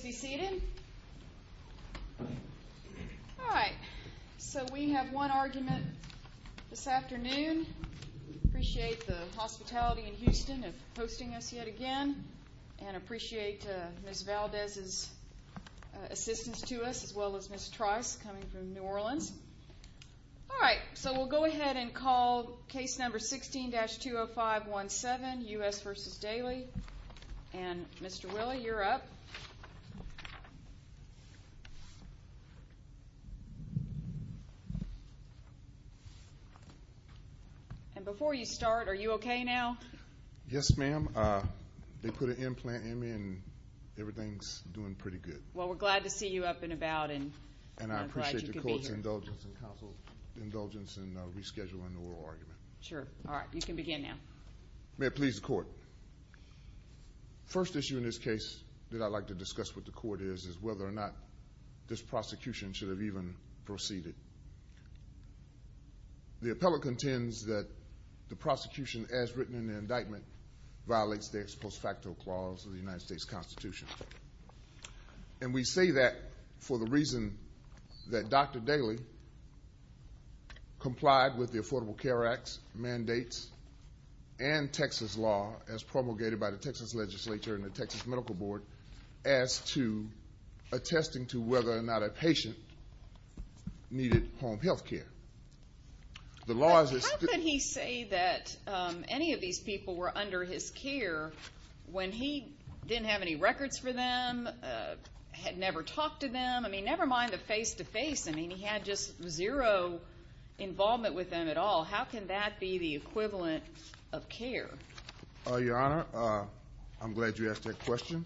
All right, so we have one argument this afternoon. We appreciate the hospitality in Houston of hosting us yet again, and appreciate Ms. Valdez's assistance to us, as well as Ms. Trice, coming from New Orleans. All right, so we'll go ahead and call case number 16-20517, U.S. v. Dailey. And Mr. Willa, you're up. And before you start, are you okay now? Yes, ma'am. They put an implant in me, and everything's doing pretty good. Well, we're glad to see you up and about, and I'm glad you could be here. And I appreciate the court's indulgence and counsel's indulgence in rescheduling the oral argument. Sure. All right, you can begin now. May it please the court. First issue in this case that I'd like to discuss with the court is, is whether or not this prosecution should have even proceeded. The appellate contends that the prosecution, as written in the indictment, violates the ex post facto clause of the United States Constitution. And we say that for the reason that Dr. Dailey complied with the Affordable Care Act's mandates and Texas law, as promulgated by the Texas legislature and the Texas Medical Board, as to attesting to whether or not a patient needed home health care. How could he say that any of these people were under his care when he didn't have any records for them, had never talked to them? I mean, never mind the face-to-face. I mean, he had just zero involvement with them at all. How can that be the equivalent of care? Your Honor, I'm glad you asked that question,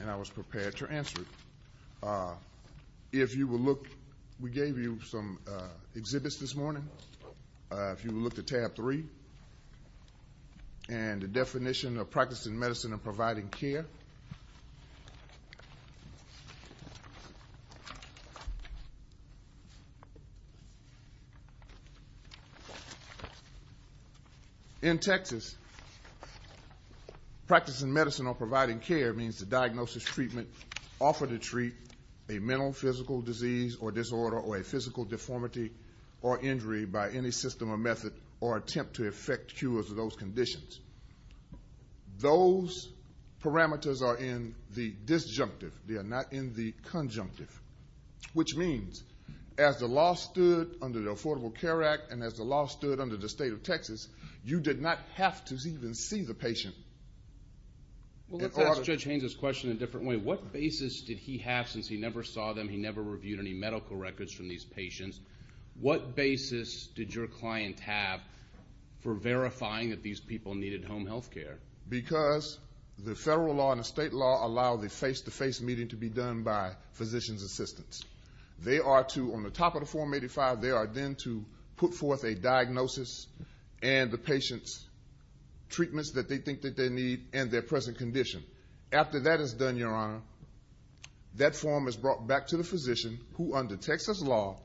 and I was prepared to answer it. If you will look, we gave you some exhibits this morning. If you will look at tab three, and the definition of practicing medicine and providing care. In Texas, practicing medicine or providing care means the diagnosis, treatment, offer to treat a mental, physical disease or disorder or a physical deformity or injury by any system or method, or attempt to effect cures of those conditions. Those parameters are in the disjunctive. They are not in the conjunctive, which means as the law stood under the Affordable Care Act, and as the law stood under the state of Texas, you did not have to even see the patient. Well, let's ask Judge Haynes' question in a different way. What basis did your client have for verifying that these people needed home health care? Because the federal law and the state law allow the face-to-face meeting to be done by physician's assistants. They are to, on the top of the Form 85, they are then to put forth a diagnosis, and the patient's treatments that they think that they need and their present condition. After that is done, Your Honor, that form is brought back to the physician who, under Texas law,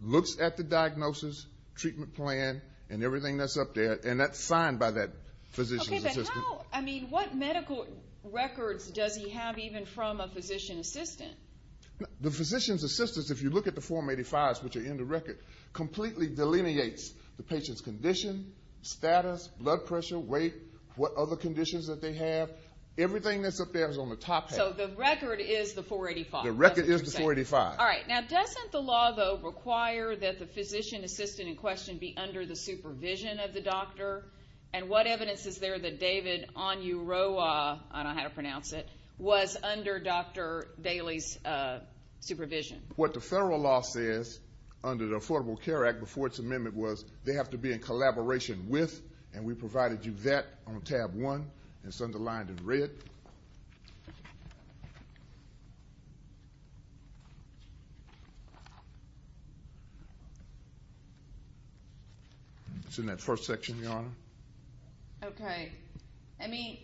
looks at the diagnosis, treatment plan, and everything that's up there, and that's signed by that physician's assistant. Okay, but how, I mean, what medical records does he have even from a physician's assistant? The physician's assistant, if you look at the Form 85s, which are in the record, completely delineates the patient's condition, status, blood pressure, weight, what other conditions that they have. Everything that's up there is on the top page. So the record is the Form 85. The record is the Form 85. All right, now doesn't the law, though, require that the physician assistant in question be under the supervision of the doctor? And what evidence is there that David Onyuroa, I don't know how to pronounce it, was under Dr. Daley's supervision? What the federal law says under the Affordable Care Act before its amendment was they have to be in collaboration with, and we provided you that on tab one. It's underlined in red. It's in that first section, Your Honor. Okay. I mean,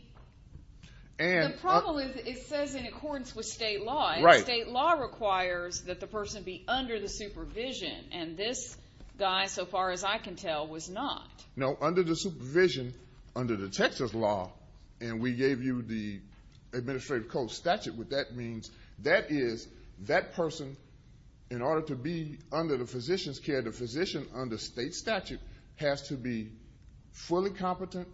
the problem is it says in accordance with state law, and state law requires that the person be under the supervision, and this guy, so far as I can tell, was not. No, under the supervision, under the Texas law, and we gave you the administrative code statute, what that means, that is that person, in order to be under the physician's care, the physician under state statute has to be fully competent,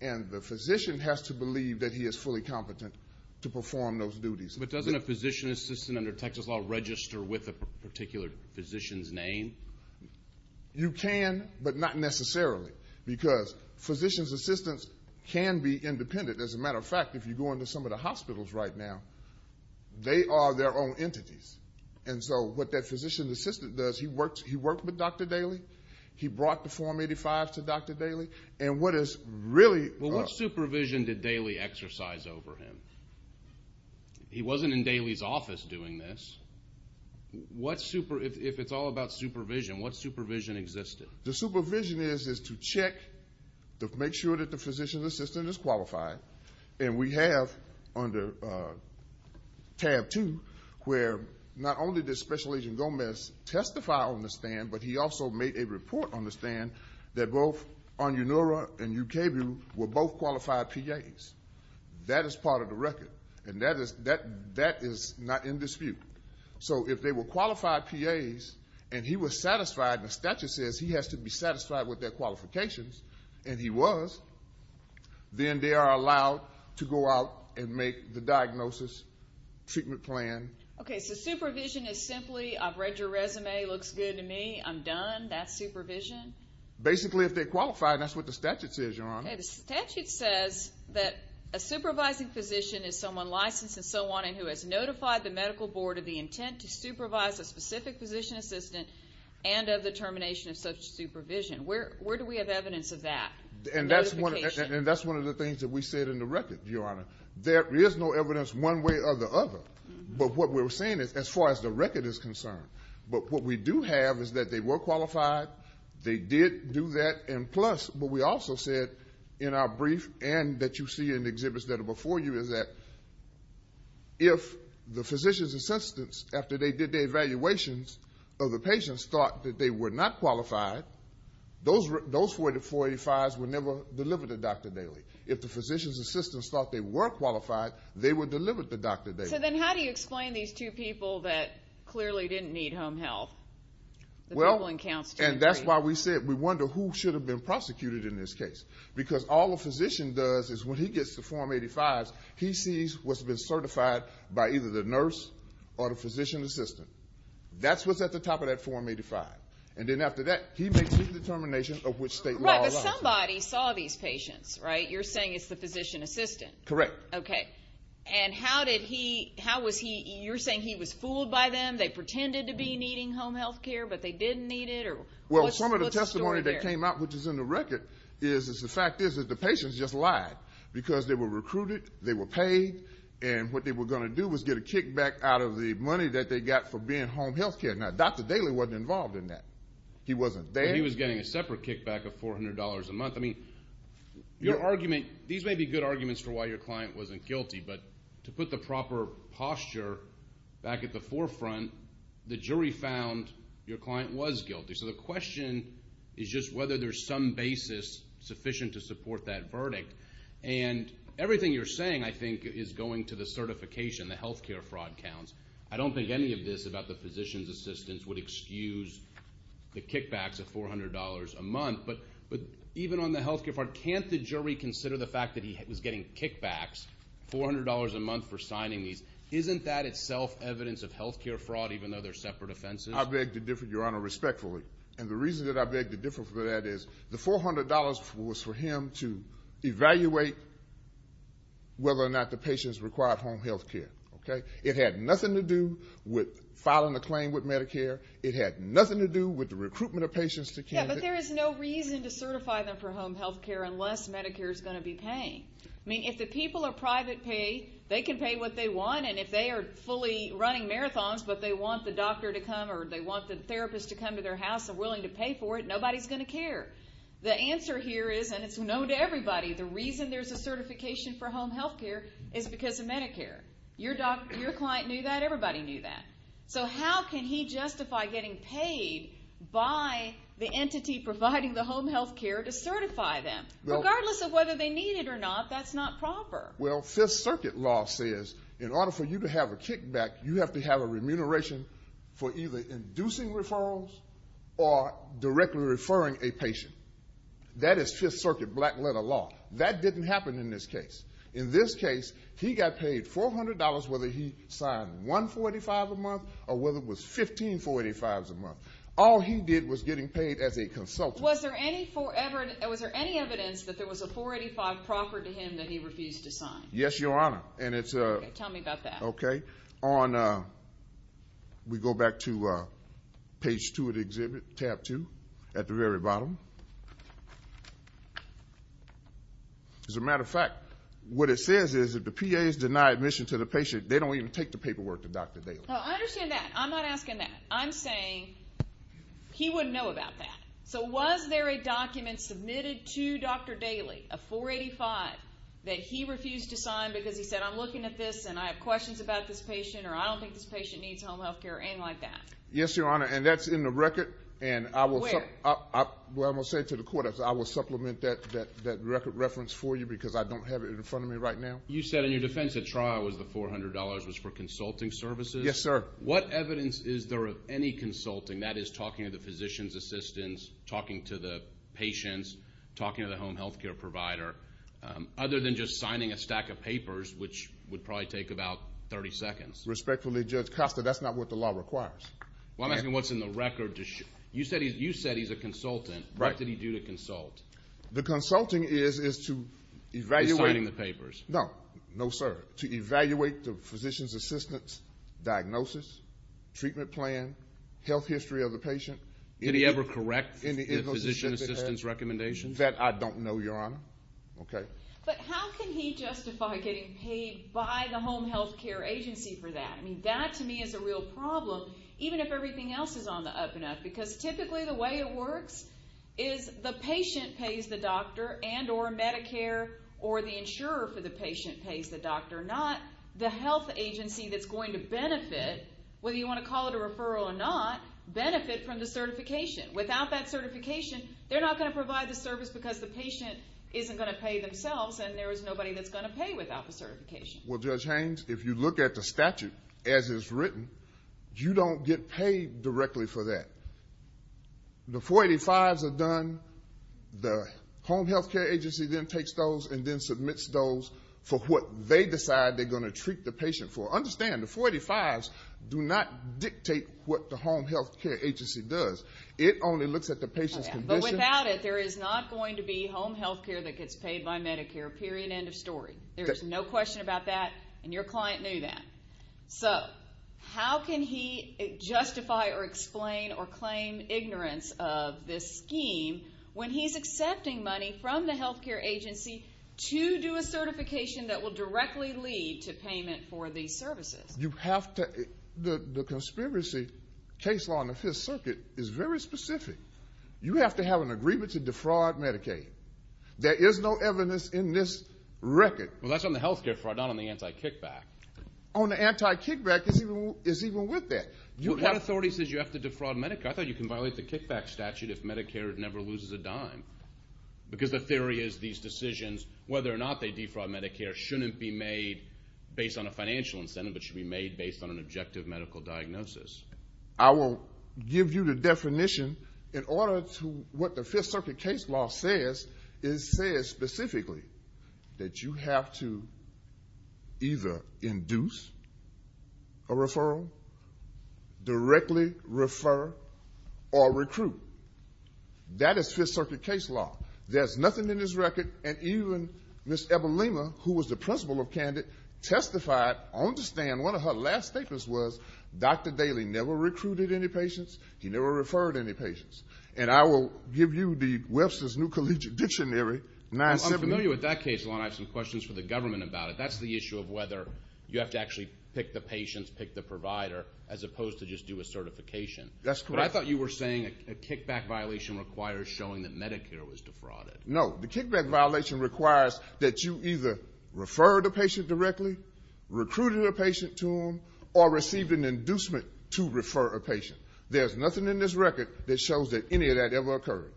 and the physician has to believe that he is fully competent to perform those duties. But doesn't a physician assistant under Texas law register with a particular physician's name? You can, but not necessarily, because physician's assistants can be independent. As a matter of fact, if you go into some of the hospitals right now, they are their own entities. And so what that physician assistant does, he worked with Dr. Daley. He brought the Form 85 to Dr. Daley, and what is really. Well, what supervision did Daley exercise over him? He wasn't in Daley's office doing this. If it's all about supervision, what supervision existed? The supervision is to check to make sure that the physician's assistant is qualified, and we have under tab two where not only did Special Agent Gomez testify on the stand, but he also made a report on the stand that both Anyanora and Ukabu were both qualified PAs. That is part of the record, and that is not in dispute. So if they were qualified PAs and he was satisfied, and the statute says he has to be satisfied with their qualifications, and he was, then they are allowed to go out and make the diagnosis, treatment plan. Okay, so supervision is simply, I've read your resume, looks good to me, I'm done, that's supervision? Basically, if they're qualified, and that's what the statute says, Your Honor. Okay, the statute says that a supervising physician is someone licensed and so on and who has notified the medical board of the intent to supervise a specific physician assistant and of the termination of such supervision. Where do we have evidence of that notification? And that's one of the things that we said in the record, Your Honor. There is no evidence one way or the other, but what we're saying is as far as the record is concerned. But what we do have is that they were qualified, they did do that, and plus what we also said in our brief and that you see in the exhibits that are before you is that if the physician's assistants, after they did their evaluations, or the patients thought that they were not qualified, those 485s were never delivered to Dr. Daley. If the physician's assistants thought they were qualified, they were delivered to Dr. Daley. So then how do you explain these two people that clearly didn't need home health? Well, and that's why we said we wonder who should have been prosecuted in this case because all a physician does is when he gets to 485s, he sees what's been certified by either the nurse or the physician assistant. That's what's at the top of that 485. And then after that, he makes the determination of which state law allows. Right, but somebody saw these patients, right? You're saying it's the physician assistant. Correct. Okay. And how did he, how was he, you're saying he was fooled by them, they pretended to be needing home health care, but they didn't need it? Well, some of the testimony that came out, which is in the record, is the fact is that the patients just lied because they were recruited, they were paid, and what they were going to do was get a kickback out of the money that they got for being home health care. Now, Dr. Daley wasn't involved in that. He wasn't there. He was getting a separate kickback of $400 a month. I mean, your argument, these may be good arguments for why your client wasn't guilty, but to put the proper posture back at the forefront, the jury found your client was guilty. So the question is just whether there's some basis sufficient to support that verdict. And everything you're saying, I think, is going to the certification, the health care fraud counts. I don't think any of this about the physician's assistants would excuse the kickbacks of $400 a month. But even on the health care fraud, can't the jury consider the fact that he was getting kickbacks, $400 a month for signing these? Isn't that itself evidence of health care fraud, even though they're separate offenses? I beg to differ, Your Honor, respectfully. And the reason that I beg to differ from that is the $400 was for him to evaluate whether or not the patients required home health care. It had nothing to do with filing a claim with Medicare. It had nothing to do with the recruitment of patients to Kansas. Yeah, but there is no reason to certify them for home health care unless Medicare is going to be paying. I mean, if the people are private pay, they can pay what they want, and if they are fully running marathons but they want the doctor to come or they want the therapist to come to their house and willing to pay for it, nobody's going to care. The answer here is, and it's known to everybody, the reason there's a certification for home health care is because of Medicare. Your client knew that. Everybody knew that. So how can he justify getting paid by the entity providing the home health care to certify them? Regardless of whether they need it or not, that's not proper. Well, Fifth Circuit law says in order for you to have a kickback, you have to have a remuneration for either inducing referrals or directly referring a patient. That is Fifth Circuit black-letter law. That didn't happen in this case. In this case, he got paid $400 whether he signed 145 a month or whether it was 15485s a month. All he did was getting paid as a consultant. Was there any evidence that there was a 485 proper to him that he refused to sign? Yes, Your Honor. Tell me about that. Okay. We go back to page 2 of the exhibit, tab 2, at the very bottom. As a matter of fact, what it says is if the PAs deny admission to the patient, they don't even take the paperwork to Dr. Daly. I understand that. I'm not asking that. I'm saying he wouldn't know about that. So was there a document submitted to Dr. Daly, a 485, that he refused to sign because he said, I'm looking at this and I have questions about this patient or I don't think this patient needs home health care or anything like that? Yes, Your Honor, and that's in the record. Where? Well, I'm going to say it to the court. I will supplement that record reference for you because I don't have it in front of me right now. You said in your defense the trial was the $400 was for consulting services? Yes, sir. What evidence is there of any consulting, that is, talking to the physician's assistants, talking to the patients, talking to the home health care provider, other than just signing a stack of papers, which would probably take about 30 seconds? Respectfully, Judge Costa, that's not what the law requires. Well, I'm asking what's in the record. You said he's a consultant. Right. What did he do to consult? The consulting is to evaluate. He's signing the papers. No. No, sir. To evaluate the physician's assistant's diagnosis, treatment plan, health history of the patient. Did he ever correct the physician's assistant's recommendations? That I don't know, Your Honor. Okay. But how can he justify getting paid by the home health care agency for that? I mean, that to me is a real problem, even if everything else is on the up and up, because typically the way it works is the patient pays the doctor and or Medicare or the insurer for the patient pays the doctor, not the health agency that's going to benefit, whether you want to call it a referral or not, benefit from the certification. Without that certification, they're not going to provide the service because the patient isn't going to pay themselves and there is nobody that's going to pay without the certification. Well, Judge Haynes, if you look at the statute as it's written, you don't get paid directly for that. The 485s are done. The home health care agency then takes those and then submits those for what they decide they're going to treat the patient for. Understand, the 485s do not dictate what the home health care agency does. It only looks at the patient's condition. But without it, there is not going to be home health care that gets paid by Medicare, period, end of story. There is no question about that, and your client knew that. So how can he justify or explain or claim ignorance of this scheme when he's accepting money from the health care agency to do a certification that will directly lead to payment for these services? The conspiracy case law in the Fifth Circuit is very specific. You have to have an agreement to defraud Medicaid. There is no evidence in this record. Well, that's on the health care fraud, not on the anti-kickback. On the anti-kickback, it's even with that. What authority says you have to defraud Medicare? I thought you can violate the kickback statute if Medicare never loses a dime because the theory is these decisions, whether or not they defraud Medicare, shouldn't be made based on a financial incentive but should be made based on an objective medical diagnosis. I will give you the definition. In order to what the Fifth Circuit case law says, it says specifically that you have to either induce a referral, directly refer, or recruit. That is Fifth Circuit case law. There's nothing in this record, and even Ms. Ebolema, who was the principal of Candid, testified on the stand. And one of her last statements was, Dr. Daley never recruited any patients, he never referred any patients. And I will give you the Webster's New Collegiate Dictionary, 970. I'm familiar with that case law, and I have some questions for the government about it. That's the issue of whether you have to actually pick the patients, pick the provider, as opposed to just do a certification. That's correct. But I thought you were saying a kickback violation requires showing that Medicare was defrauded. No, the kickback violation requires that you either refer the patient directly, recruited a patient to them, or received an inducement to refer a patient. There's nothing in this record that shows that any of that ever occurred.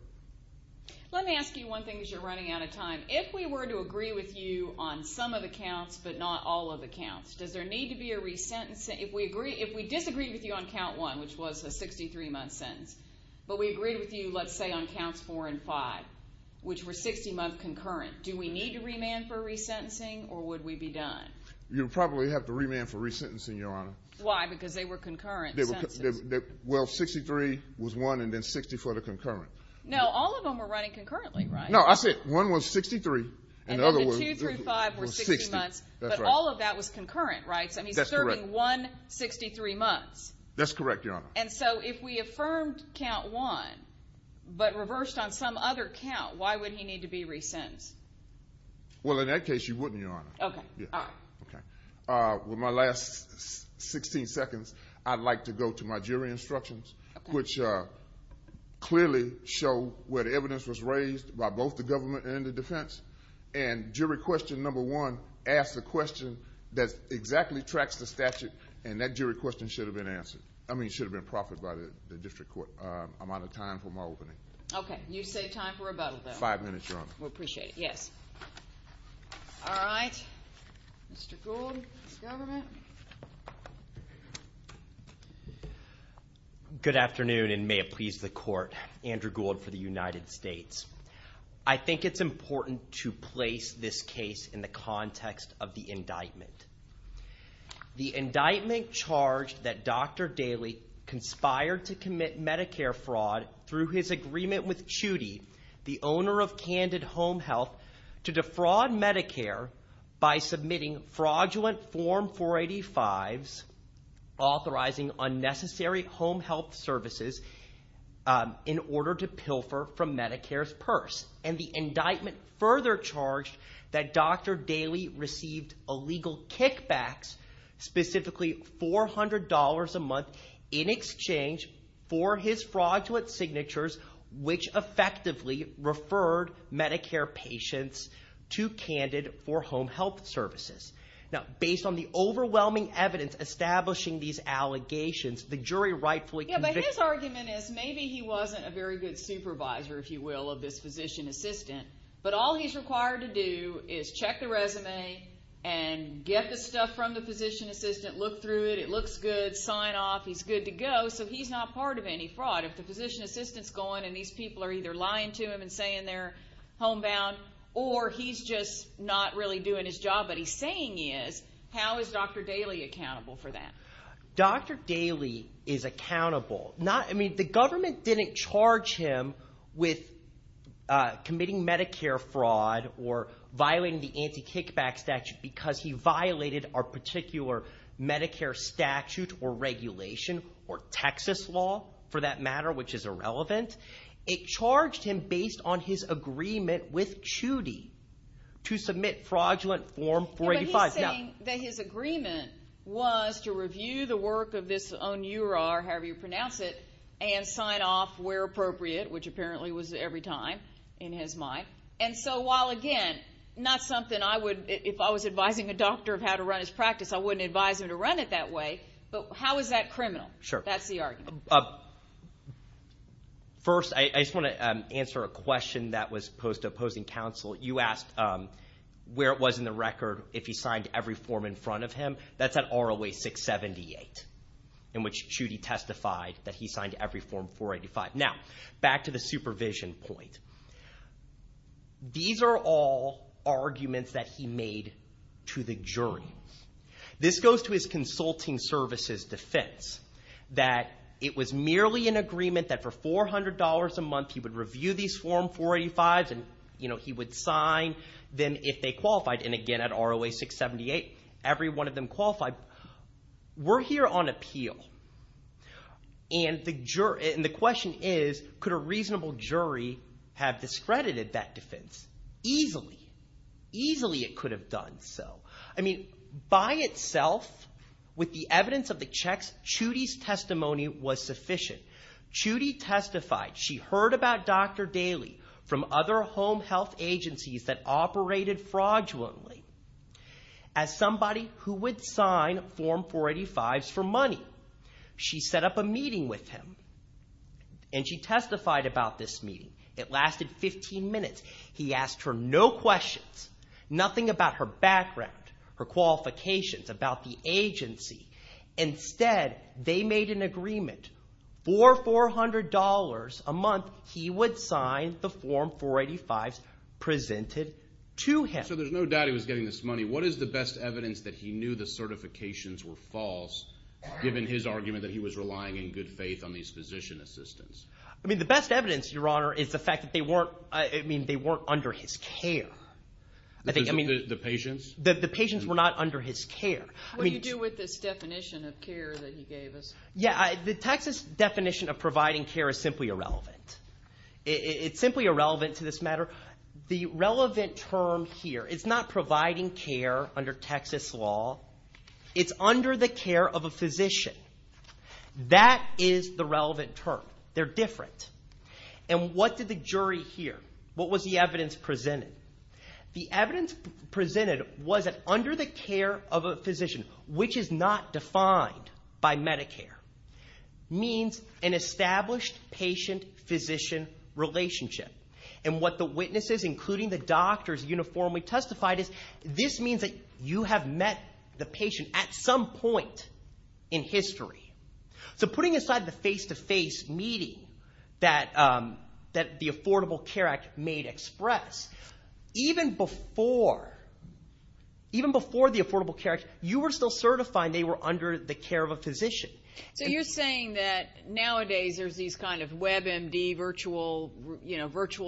Let me ask you one thing because you're running out of time. If we were to agree with you on some of the counts but not all of the counts, does there need to be a resentencing? If we disagree with you on Count 1, which was a 63-month sentence, but we agree with you, let's say, on Counts 4 and 5, which were 60-month concurrent, do we need to remand for resentencing, or would we be done? You'd probably have to remand for resentencing, Your Honor. Why? Because they were concurrent sentences. Well, 63 was one and then 60 for the concurrent. No, all of them were running concurrently, right? No, I said one was 63 and the other was 60. And then the 2 through 5 were 60 months, but all of that was concurrent, right? That's correct. So he's serving one 63 months. That's correct, Your Honor. And so if we affirmed Count 1 but reversed on some other count, Well, in that case, you wouldn't, Your Honor. Okay, all right. With my last 16 seconds, I'd like to go to my jury instructions, which clearly show where the evidence was raised by both the government and the defense. And jury question number one asks a question that exactly tracks the statute, and that jury question should have been answered. I mean, it should have been proffered by the district court. I'm out of time for my opening. Okay, you save time for rebuttal, though. Five minutes, Your Honor. We appreciate it, yes. All right. Mr. Gould, the government. Good afternoon, and may it please the court. Andrew Gould for the United States. I think it's important to place this case in the context of the indictment. The indictment charged that Dr. Daley conspired to commit Medicare fraud through his agreement with Chudy, the owner of Candid Home Health, to defraud Medicare by submitting fraudulent Form 485s, authorizing unnecessary home health services, in order to pilfer from Medicare's purse. And the indictment further charged that Dr. Daley received illegal kickbacks, specifically $400 a month in exchange for his fraudulent signatures, which effectively referred Medicare patients to Candid for home health services. Now, based on the overwhelming evidence establishing these allegations, the jury rightfully convicted him. Yeah, but his argument is maybe he wasn't a very good supervisor, if you will, of this physician assistant, but all he's required to do is check the resume and get the stuff from the physician assistant, look through it, it looks good, sign off, he's good to go, so he's not part of any fraud. If the physician assistant's gone and these people are either lying to him and saying they're homebound, or he's just not really doing his job, but he's saying he is, how is Dr. Daley accountable for that? Dr. Daley is accountable. I mean, the government didn't charge him with committing Medicare fraud or violating the anti-kickback statute because he violated our particular Medicare statute or regulation, or Texas law, for that matter, which is irrelevant. It charged him based on his agreement with Chudy to submit fraudulent Form 485. Yeah, but he's saying that his agreement was to review the work of this own URAR, however you pronounce it, and sign off where appropriate, which apparently was every time, in his mind. And so while, again, not something I would, if I was advising a doctor of how to run his practice, I wouldn't advise him to run it that way, but how is that criminal? That's the argument. First, I just want to answer a question that was posed to opposing counsel. You asked where it was in the record if he signed every form in front of him. That's at ROA 678, in which Chudy testified that he signed every Form 485. Now, back to the supervision point. These are all arguments that he made to the jury. This goes to his consulting services defense, that it was merely an agreement that for $400 a month he would review these Form 485s, and he would sign them if they qualified. And again, at ROA 678, every one of them qualified. We're here on appeal, and the question is, could a reasonable jury have discredited that defense? Easily. Easily it could have done so. I mean, by itself, with the evidence of the checks, Chudy's testimony was sufficient. Chudy testified. She heard about Dr. Daley from other home health agencies that operated fraudulently. As somebody who would sign Form 485s for money, she set up a meeting with him, and she testified about this meeting. It lasted 15 minutes. He asked her no questions, nothing about her background, her qualifications, about the agency. Instead, they made an agreement. For $400 a month, he would sign the Form 485s presented to him. So there's no doubt he was getting this money. What is the best evidence that he knew the certifications were false, given his argument that he was relying in good faith on these physician assistants? I mean, the best evidence, Your Honor, is the fact that they weren't under his care. The patients? The patients were not under his care. What do you do with this definition of care that he gave us? Yeah, the Texas definition of providing care is simply irrelevant. It's simply irrelevant to this matter. The relevant term here is not providing care under Texas law. It's under the care of a physician. That is the relevant term. They're different. And what did the jury hear? What was the evidence presented? The evidence presented was that under the care of a physician, which is not defined by Medicare, means an established patient-physician relationship. And what the witnesses, including the doctors, uniformly testified is this means that you have met the patient at some point in history. So putting aside the face-to-face meeting that the Affordable Care Act made express, even before the Affordable Care Act, you were still certifying they were under the care of a physician. So you're saying that nowadays there's these kind of WebMD virtual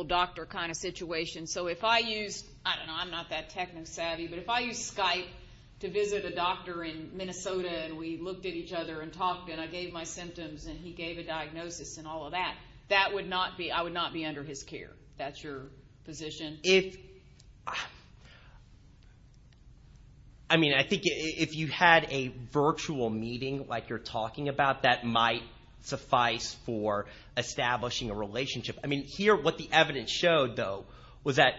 doctor kind of situations. So if I used, I don't know, I'm not that tech savvy, but if I used Skype to visit a doctor in Minnesota and we looked at each other and talked and I gave my symptoms and he gave a diagnosis and all of that, that would not be, I would not be under his care. That's your position? If, I mean, I think if you had a virtual meeting like you're talking about, that might suffice for establishing a relationship. I mean, here what the evidence showed, though, was that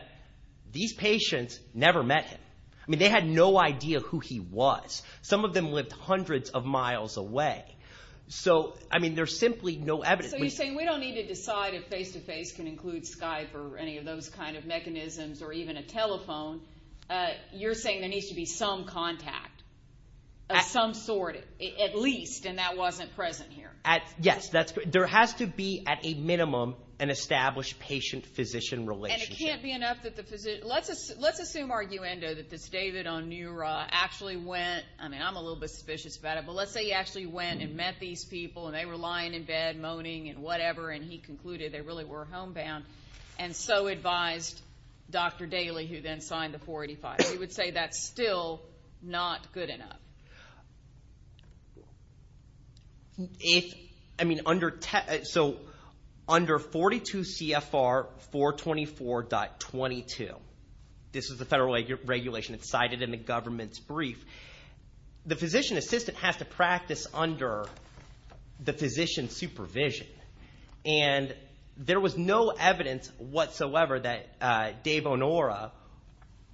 these patients never met him. I mean, they had no idea who he was. Some of them lived hundreds of miles away. So, I mean, there's simply no evidence. So you're saying we don't need to decide if face-to-face can include Skype or any of those kind of mechanisms or even a telephone. You're saying there needs to be some contact of some sort, at least, and that wasn't present here. Yes, there has to be at a minimum an established patient-physician relationship. And it can't be enough that the physician, let's assume arguendo that this David Onura actually went, I mean, I'm a little bit suspicious about it, but let's say he actually went and met these people and they were lying in bed moaning and whatever, and he concluded they really were homebound and so advised Dr. Daly, who then signed the 485. We would say that's still not good enough. If, I mean, so under 42 CFR 424.22, this is the federal regulation. It's cited in the government's brief. The physician assistant has to practice under the physician's supervision, and there was no evidence whatsoever that Dave Onura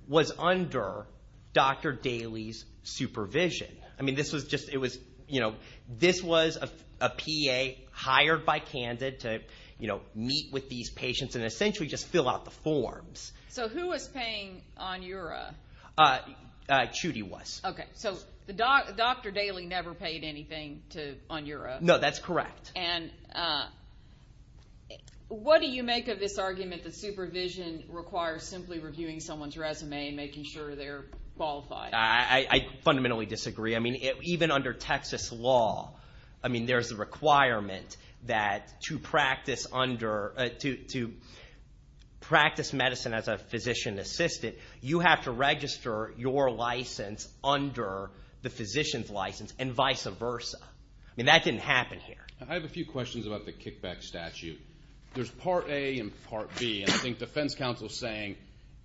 was under Dr. Daly's supervision. I mean, this was just, you know, this was a PA hired by Candid to, you know, meet with these patients and essentially just fill out the forms. So who was paying Onura? Chudy was. Okay, so Dr. Daly never paid anything to Onura? No, that's correct. And what do you make of this argument that supervision requires simply reviewing someone's resume and making sure they're qualified? I fundamentally disagree. I mean, even under Texas law, I mean, there's a requirement that to practice medicine as a physician assistant, you have to register your license under the physician's license and vice versa. I mean, that didn't happen here. I have a few questions about the kickback statute. There's Part A and Part B, and I think defense counsel is saying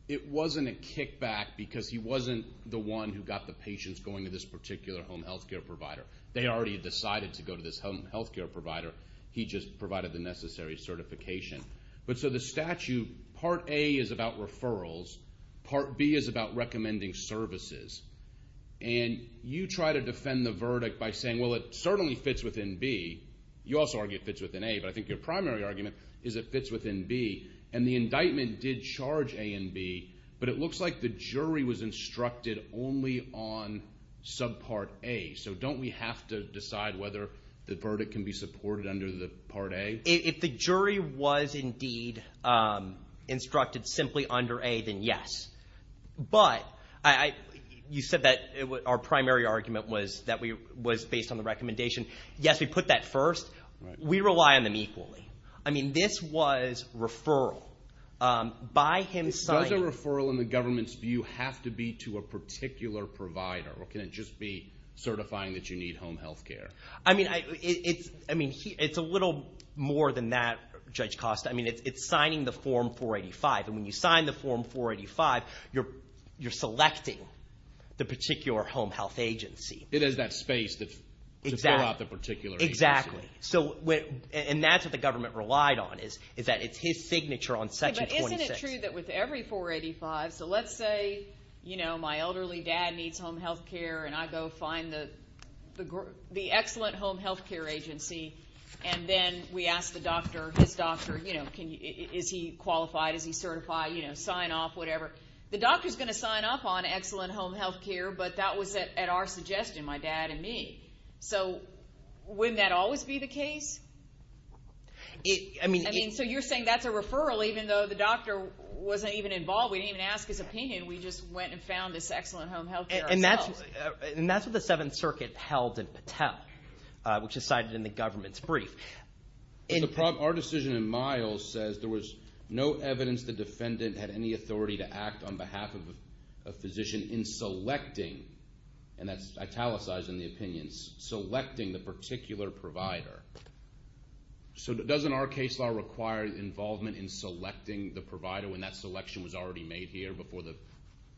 it wasn't a kickback because he wasn't the one who got the patients going to this particular home health care provider. They already decided to go to this home health care provider. He just provided the necessary certification. But so the statute, Part A is about referrals. Part B is about recommending services. And you try to defend the verdict by saying, well, it certainly fits within B. You also argue it fits within A, but I think your primary argument is it fits within B. And the indictment did charge A and B, but it looks like the jury was instructed only on subpart A. So don't we have to decide whether the verdict can be supported under the Part A? If the jury was indeed instructed simply under A, then yes. But you said that our primary argument was that it was based on the recommendation. Yes, we put that first. We rely on them equally. I mean, this was referral. By him signing it. Does a referral in the government's view have to be to a particular provider, or can it just be certifying that you need home health care? I mean, it's a little more than that, Judge Costa. I mean, it's signing the Form 485. And when you sign the Form 485, you're selecting the particular home health agency. It has that space to fill out the particular agency. Exactly. And that's what the government relied on, is that it's his signature on Section 26. But isn't it true that with every 485, so let's say my elderly dad needs home health care and I go find the excellent home health care agency, and then we ask the doctor, his doctor, you know, is he qualified, is he certified, you know, sign off, whatever. The doctor's going to sign up on excellent home health care, but that was at our suggestion, my dad and me. So wouldn't that always be the case? So you're saying that's a referral even though the doctor wasn't even involved, we didn't even ask his opinion, we just went and found this excellent home health care ourselves. And that's what the Seventh Circuit held in Patel, which is cited in the government's brief. Our decision in Miles says there was no evidence the defendant had any authority to act on behalf of a physician in selecting, and that's italicized in the opinions, selecting the particular provider. So doesn't our case law require involvement in selecting the provider when that selection was already made here before the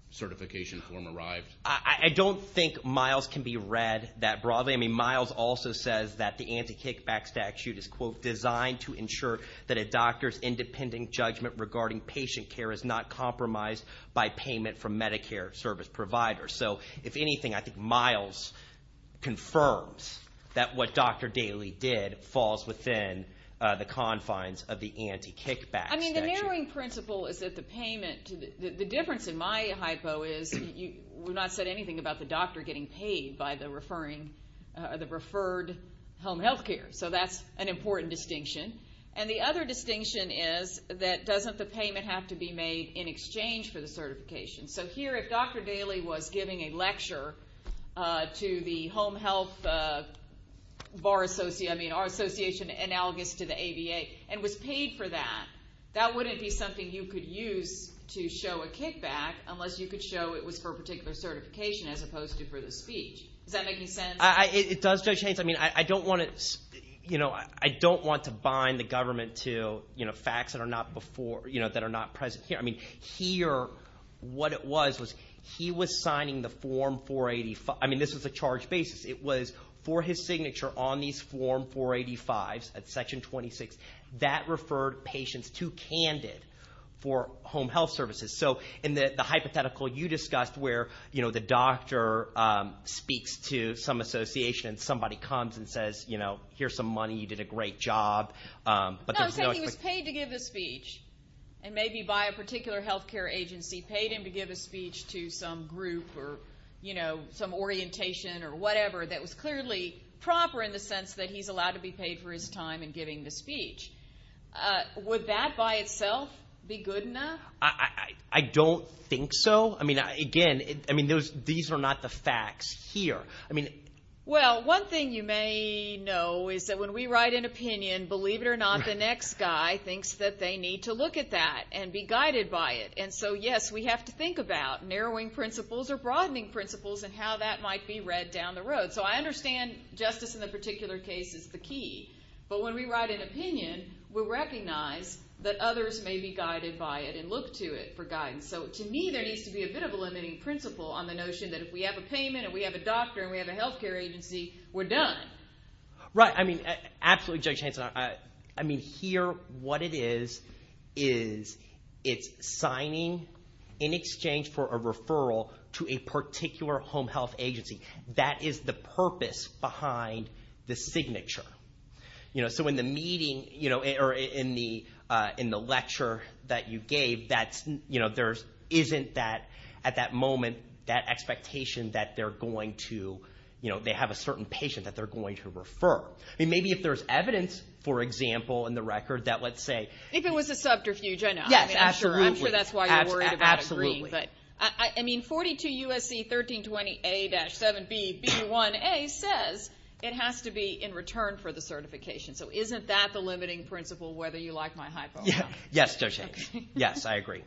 certification form arrived? I don't think Miles can be read that broadly. I mean, Miles also says that the anti-kickback statute is, quote, designed to ensure that a doctor's independent judgment regarding patient care is not compromised by payment from Medicare service providers. So if anything, I think Miles confirms that what Dr. Daley did falls within the confines of the anti-kickback statute. I mean, the narrowing principle is that the payment, the difference in my hypo is, you have not said anything about the doctor getting paid by the referred home health care, so that's an important distinction. And the other distinction is that doesn't the payment have to be made in exchange for the certification? So here, if Dr. Daley was giving a lecture to the home health bar association, I mean our association analogous to the ABA, and was paid for that, that wouldn't be something you could use to show a kickback unless you could show it was for particular certification as opposed to for the speech. Does that make any sense? It does, Judge Haynes. I mean, I don't want to bind the government to facts that are not present here. I mean, here what it was was he was signing the Form 485. I mean, this was a charge basis. It was for his signature on these Form 485s at Section 26. That referred patients to Candid for home health services. So in the hypothetical you discussed where, you know, the doctor speaks to some association and somebody comes and says, you know, here's some money, you did a great job. No, he said he was paid to give a speech, and maybe by a particular health care agency, he paid him to give a speech to some group or, you know, some orientation or whatever that was clearly proper in the sense that he's allowed to be paid for his time in giving the speech. Would that by itself be good enough? I don't think so. I mean, again, these are not the facts here. Well, one thing you may know is that when we write an opinion, believe it or not, the next guy thinks that they need to look at that and be guided by it. And so, yes, we have to think about narrowing principles or broadening principles and how that might be read down the road. So I understand justice in the particular case is the key. But when we write an opinion, we'll recognize that others may be guided by it and look to it for guidance. So to me there needs to be a bit of a limiting principle on the notion that if we have a payment and we have a doctor and we have a health care agency, we're done. Right. I mean, absolutely, Judge Hanson. I mean, here what it is is it's signing in exchange for a referral to a particular home health agency. That is the purpose behind the signature. So in the meeting or in the lecture that you gave, there isn't, at that moment, that expectation that they're going to, you know, they have a certain patient that they're going to refer. I mean, maybe if there's evidence, for example, in the record that let's say. If it was a subterfuge, I know. Yes, absolutely. I'm sure that's why you're worried about agreeing. Absolutely. But, I mean, 42 U.S.C. 1320A-7BB1A says it has to be in return for the certification. So isn't that the limiting principle, whether you like my hypo or not? Yes, Judge Hanson. Okay. Yes, I agree.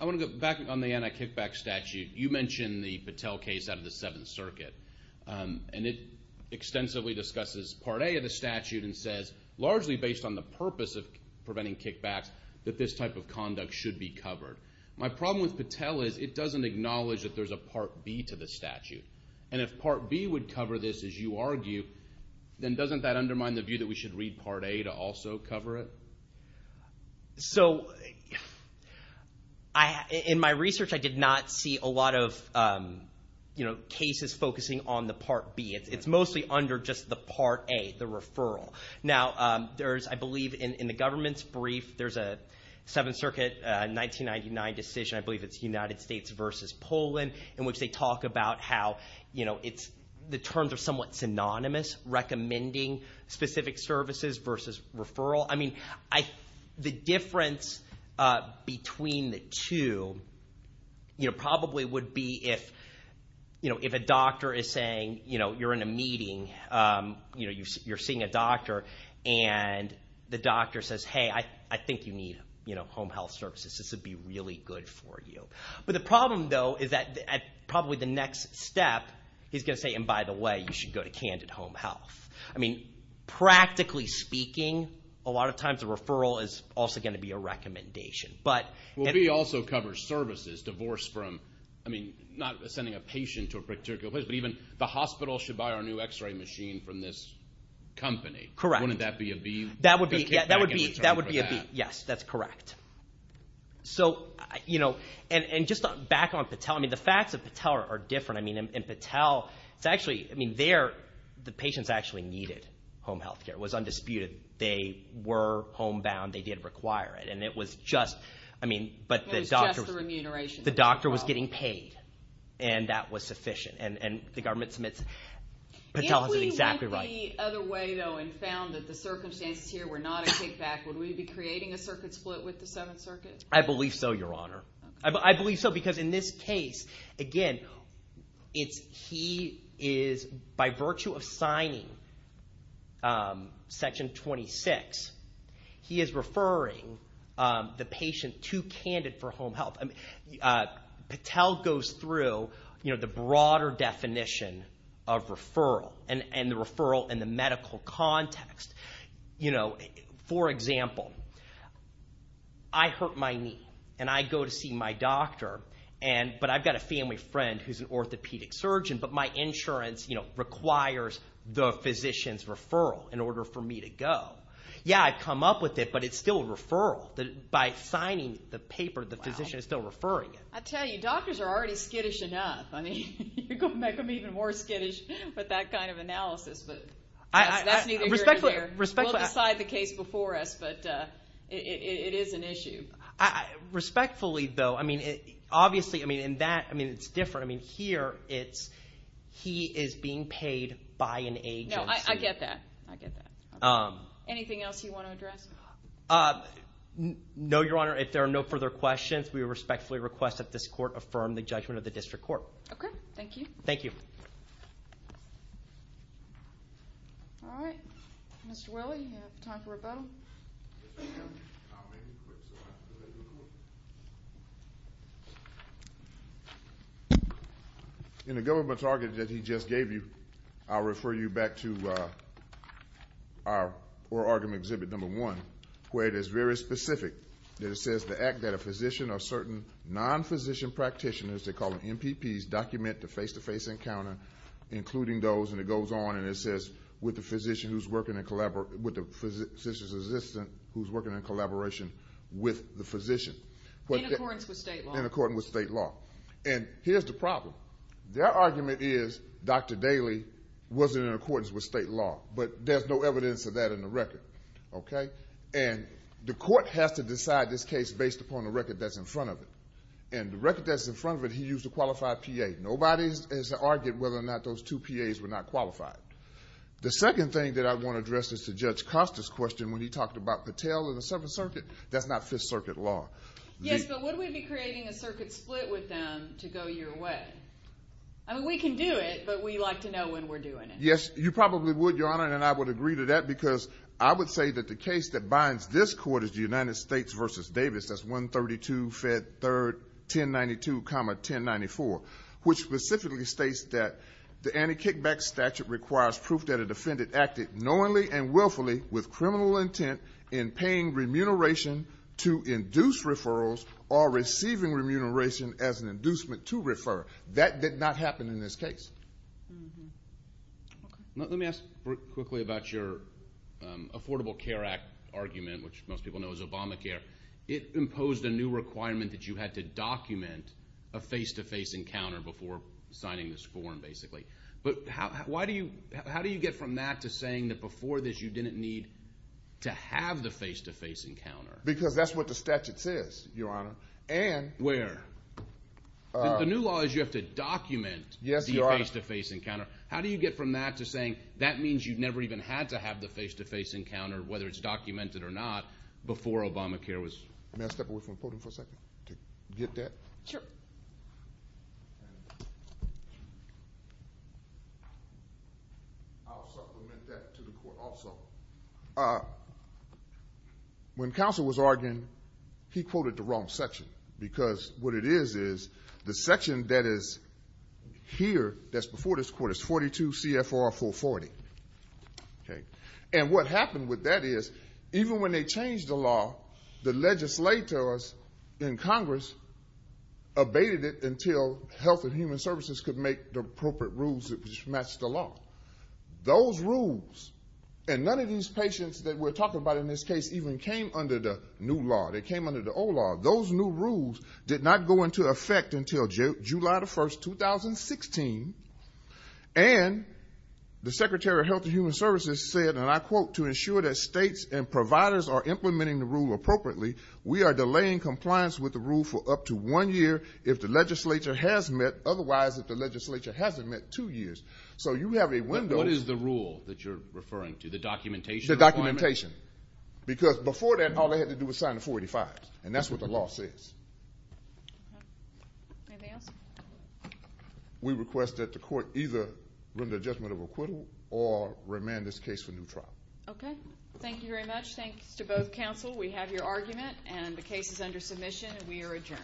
I want to go back on the anti-kickback statute. You mentioned the Patel case out of the Seventh Circuit, and it extensively discusses Part A of the statute and says, largely based on the purpose of preventing kickbacks, that this type of conduct should be covered. My problem with Patel is it doesn't acknowledge that there's a Part B to the statute. And if Part B would cover this, as you argue, then doesn't that undermine the view that we should read Part A to also cover it? So in my research, I did not see a lot of cases focusing on the Part B. It's mostly under just the Part A, the referral. Now, I believe in the government's brief, there's a Seventh Circuit 1999 decision, I believe it's United States versus Poland, in which they talk about how the terms are somewhat synonymous, recommending specific services versus referral. The difference between the two probably would be if a doctor is saying you're in a meeting, you're seeing a doctor, and the doctor says, hey, I think you need home health services, this would be really good for you. But the problem, though, is that probably the next step, he's going to say, and by the way, you should go to Candid Home Health. I mean, practically speaking, a lot of times a referral is also going to be a recommendation. Well, B also covers services, divorce from, I mean, not sending a patient to a particular place, but even the hospital should buy our new X-ray machine from this company. Correct. Wouldn't that be a B? That would be a B, yes, that's correct. So, you know, and just back on Patel, I mean, the facts of Patel are different. I mean, in Patel, it's actually, I mean, there, the patients actually needed home health care. It was undisputed. They were homebound. They did require it, and it was just, I mean, but the doctor was getting paid, and that was sufficient. And the government submits, Patel is exactly right. If we went the other way, though, and found that the circumstances here were not a kickback, would we be creating a circuit split with the Seventh Circuit? I believe so, Your Honor. I believe so because in this case, again, he is, by virtue of signing Section 26, he is referring the patient too candid for home health. Patel goes through, you know, the broader definition of referral and the referral in the medical context. You know, for example, I hurt my knee, and I go to see my doctor, but I've got a family friend who's an orthopedic surgeon, but my insurance, you know, requires the physician's referral in order for me to go. Yeah, I come up with it, but it's still a referral. By signing the paper, the physician is still referring it. I tell you, doctors are already skittish enough. I mean, you're going to make them even more skittish with that kind of analysis, but that's neither here nor there. We'll decide the case before us, but it is an issue. Respectfully, though, I mean, obviously, I mean, in that, I mean, it's different. I mean, here it's he is being paid by an agency. No, I get that. I get that. Anything else you want to address? No, Your Honor, if there are no further questions, we respectfully request that this court affirm the judgment of the district court. Okay, thank you. Thank you. All right. Mr. Willey, you have time for rebuttal. In the government argument that he just gave you, I'll refer you back to our oral argument exhibit number one, where it is very specific. It says the act that a physician or certain non-physician practitioners, they call them MPPs, document the face-to-face encounter, including those, and it goes on and it says, with the physician's assistant who's working in collaboration with the physician. In accordance with state law. In accordance with state law. And here's the problem. Their argument is Dr. Daley was in accordance with state law, but there's no evidence of that in the record, okay? And the court has to decide this case based upon the record that's in front of it. And the record that's in front of it, he used a qualified PA. Nobody has argued whether or not those two PAs were not qualified. The second thing that I want to address is to Judge Costa's question when he talked about Patel and the Seventh Circuit. That's not Fifth Circuit law. Yes, but would we be creating a circuit split with them to go your way? I mean, we can do it, but we like to know when we're doing it. Yes, you probably would, Your Honor, and I would agree to that, because I would say that the case that binds this court is the United States versus Davis, that's 132 Fed 3rd 1092, 1094, which specifically states that the anti-kickback statute requires proof that a defendant acted knowingly and willfully with criminal intent in paying remuneration to induce referrals or receiving remuneration as an inducement to refer. That did not happen in this case. Let me ask quickly about your Affordable Care Act argument, which most people know is Obamacare. It imposed a new requirement that you had to document a face-to-face encounter before signing this form, basically. But how do you get from that to saying that before this you didn't need to have the face-to-face encounter? Because that's what the statute says, Your Honor. Where? The new law is you have to document the face-to-face encounter. How do you get from that to saying that means you've never even had to have the face-to-face encounter, whether it's documented or not, before Obamacare was? May I step away from the podium for a second to get that? Sure. I'll supplement that to the Court also. When Counsel was arguing, he quoted the wrong section because what it is is the section that is here that's before this Court is 42 CFR 440. And what happened with that is even when they changed the law, the legislators in Congress abated it until Health and Human Services could make the appropriate rules that matched the law. Those rules, and none of these patients that we're talking about in this case even came under the new law. They came under the old law. Those new rules did not go into effect until July 1, 2016. And the Secretary of Health and Human Services said, and I quote, to ensure that states and providers are implementing the rule appropriately, we are delaying compliance with the rule for up to one year if the legislature has met. Otherwise, if the legislature hasn't met, two years. So you have a window. What is the rule that you're referring to, the documentation requirement? The documentation. Because before that, all they had to do was sign the 485s, and that's what the law says. Anything else? We request that the court either render a judgment of acquittal or remand this case for new trial. Okay. Thank you very much. Thanks to both counsel. We have your argument, and the case is under submission, and we are adjourned.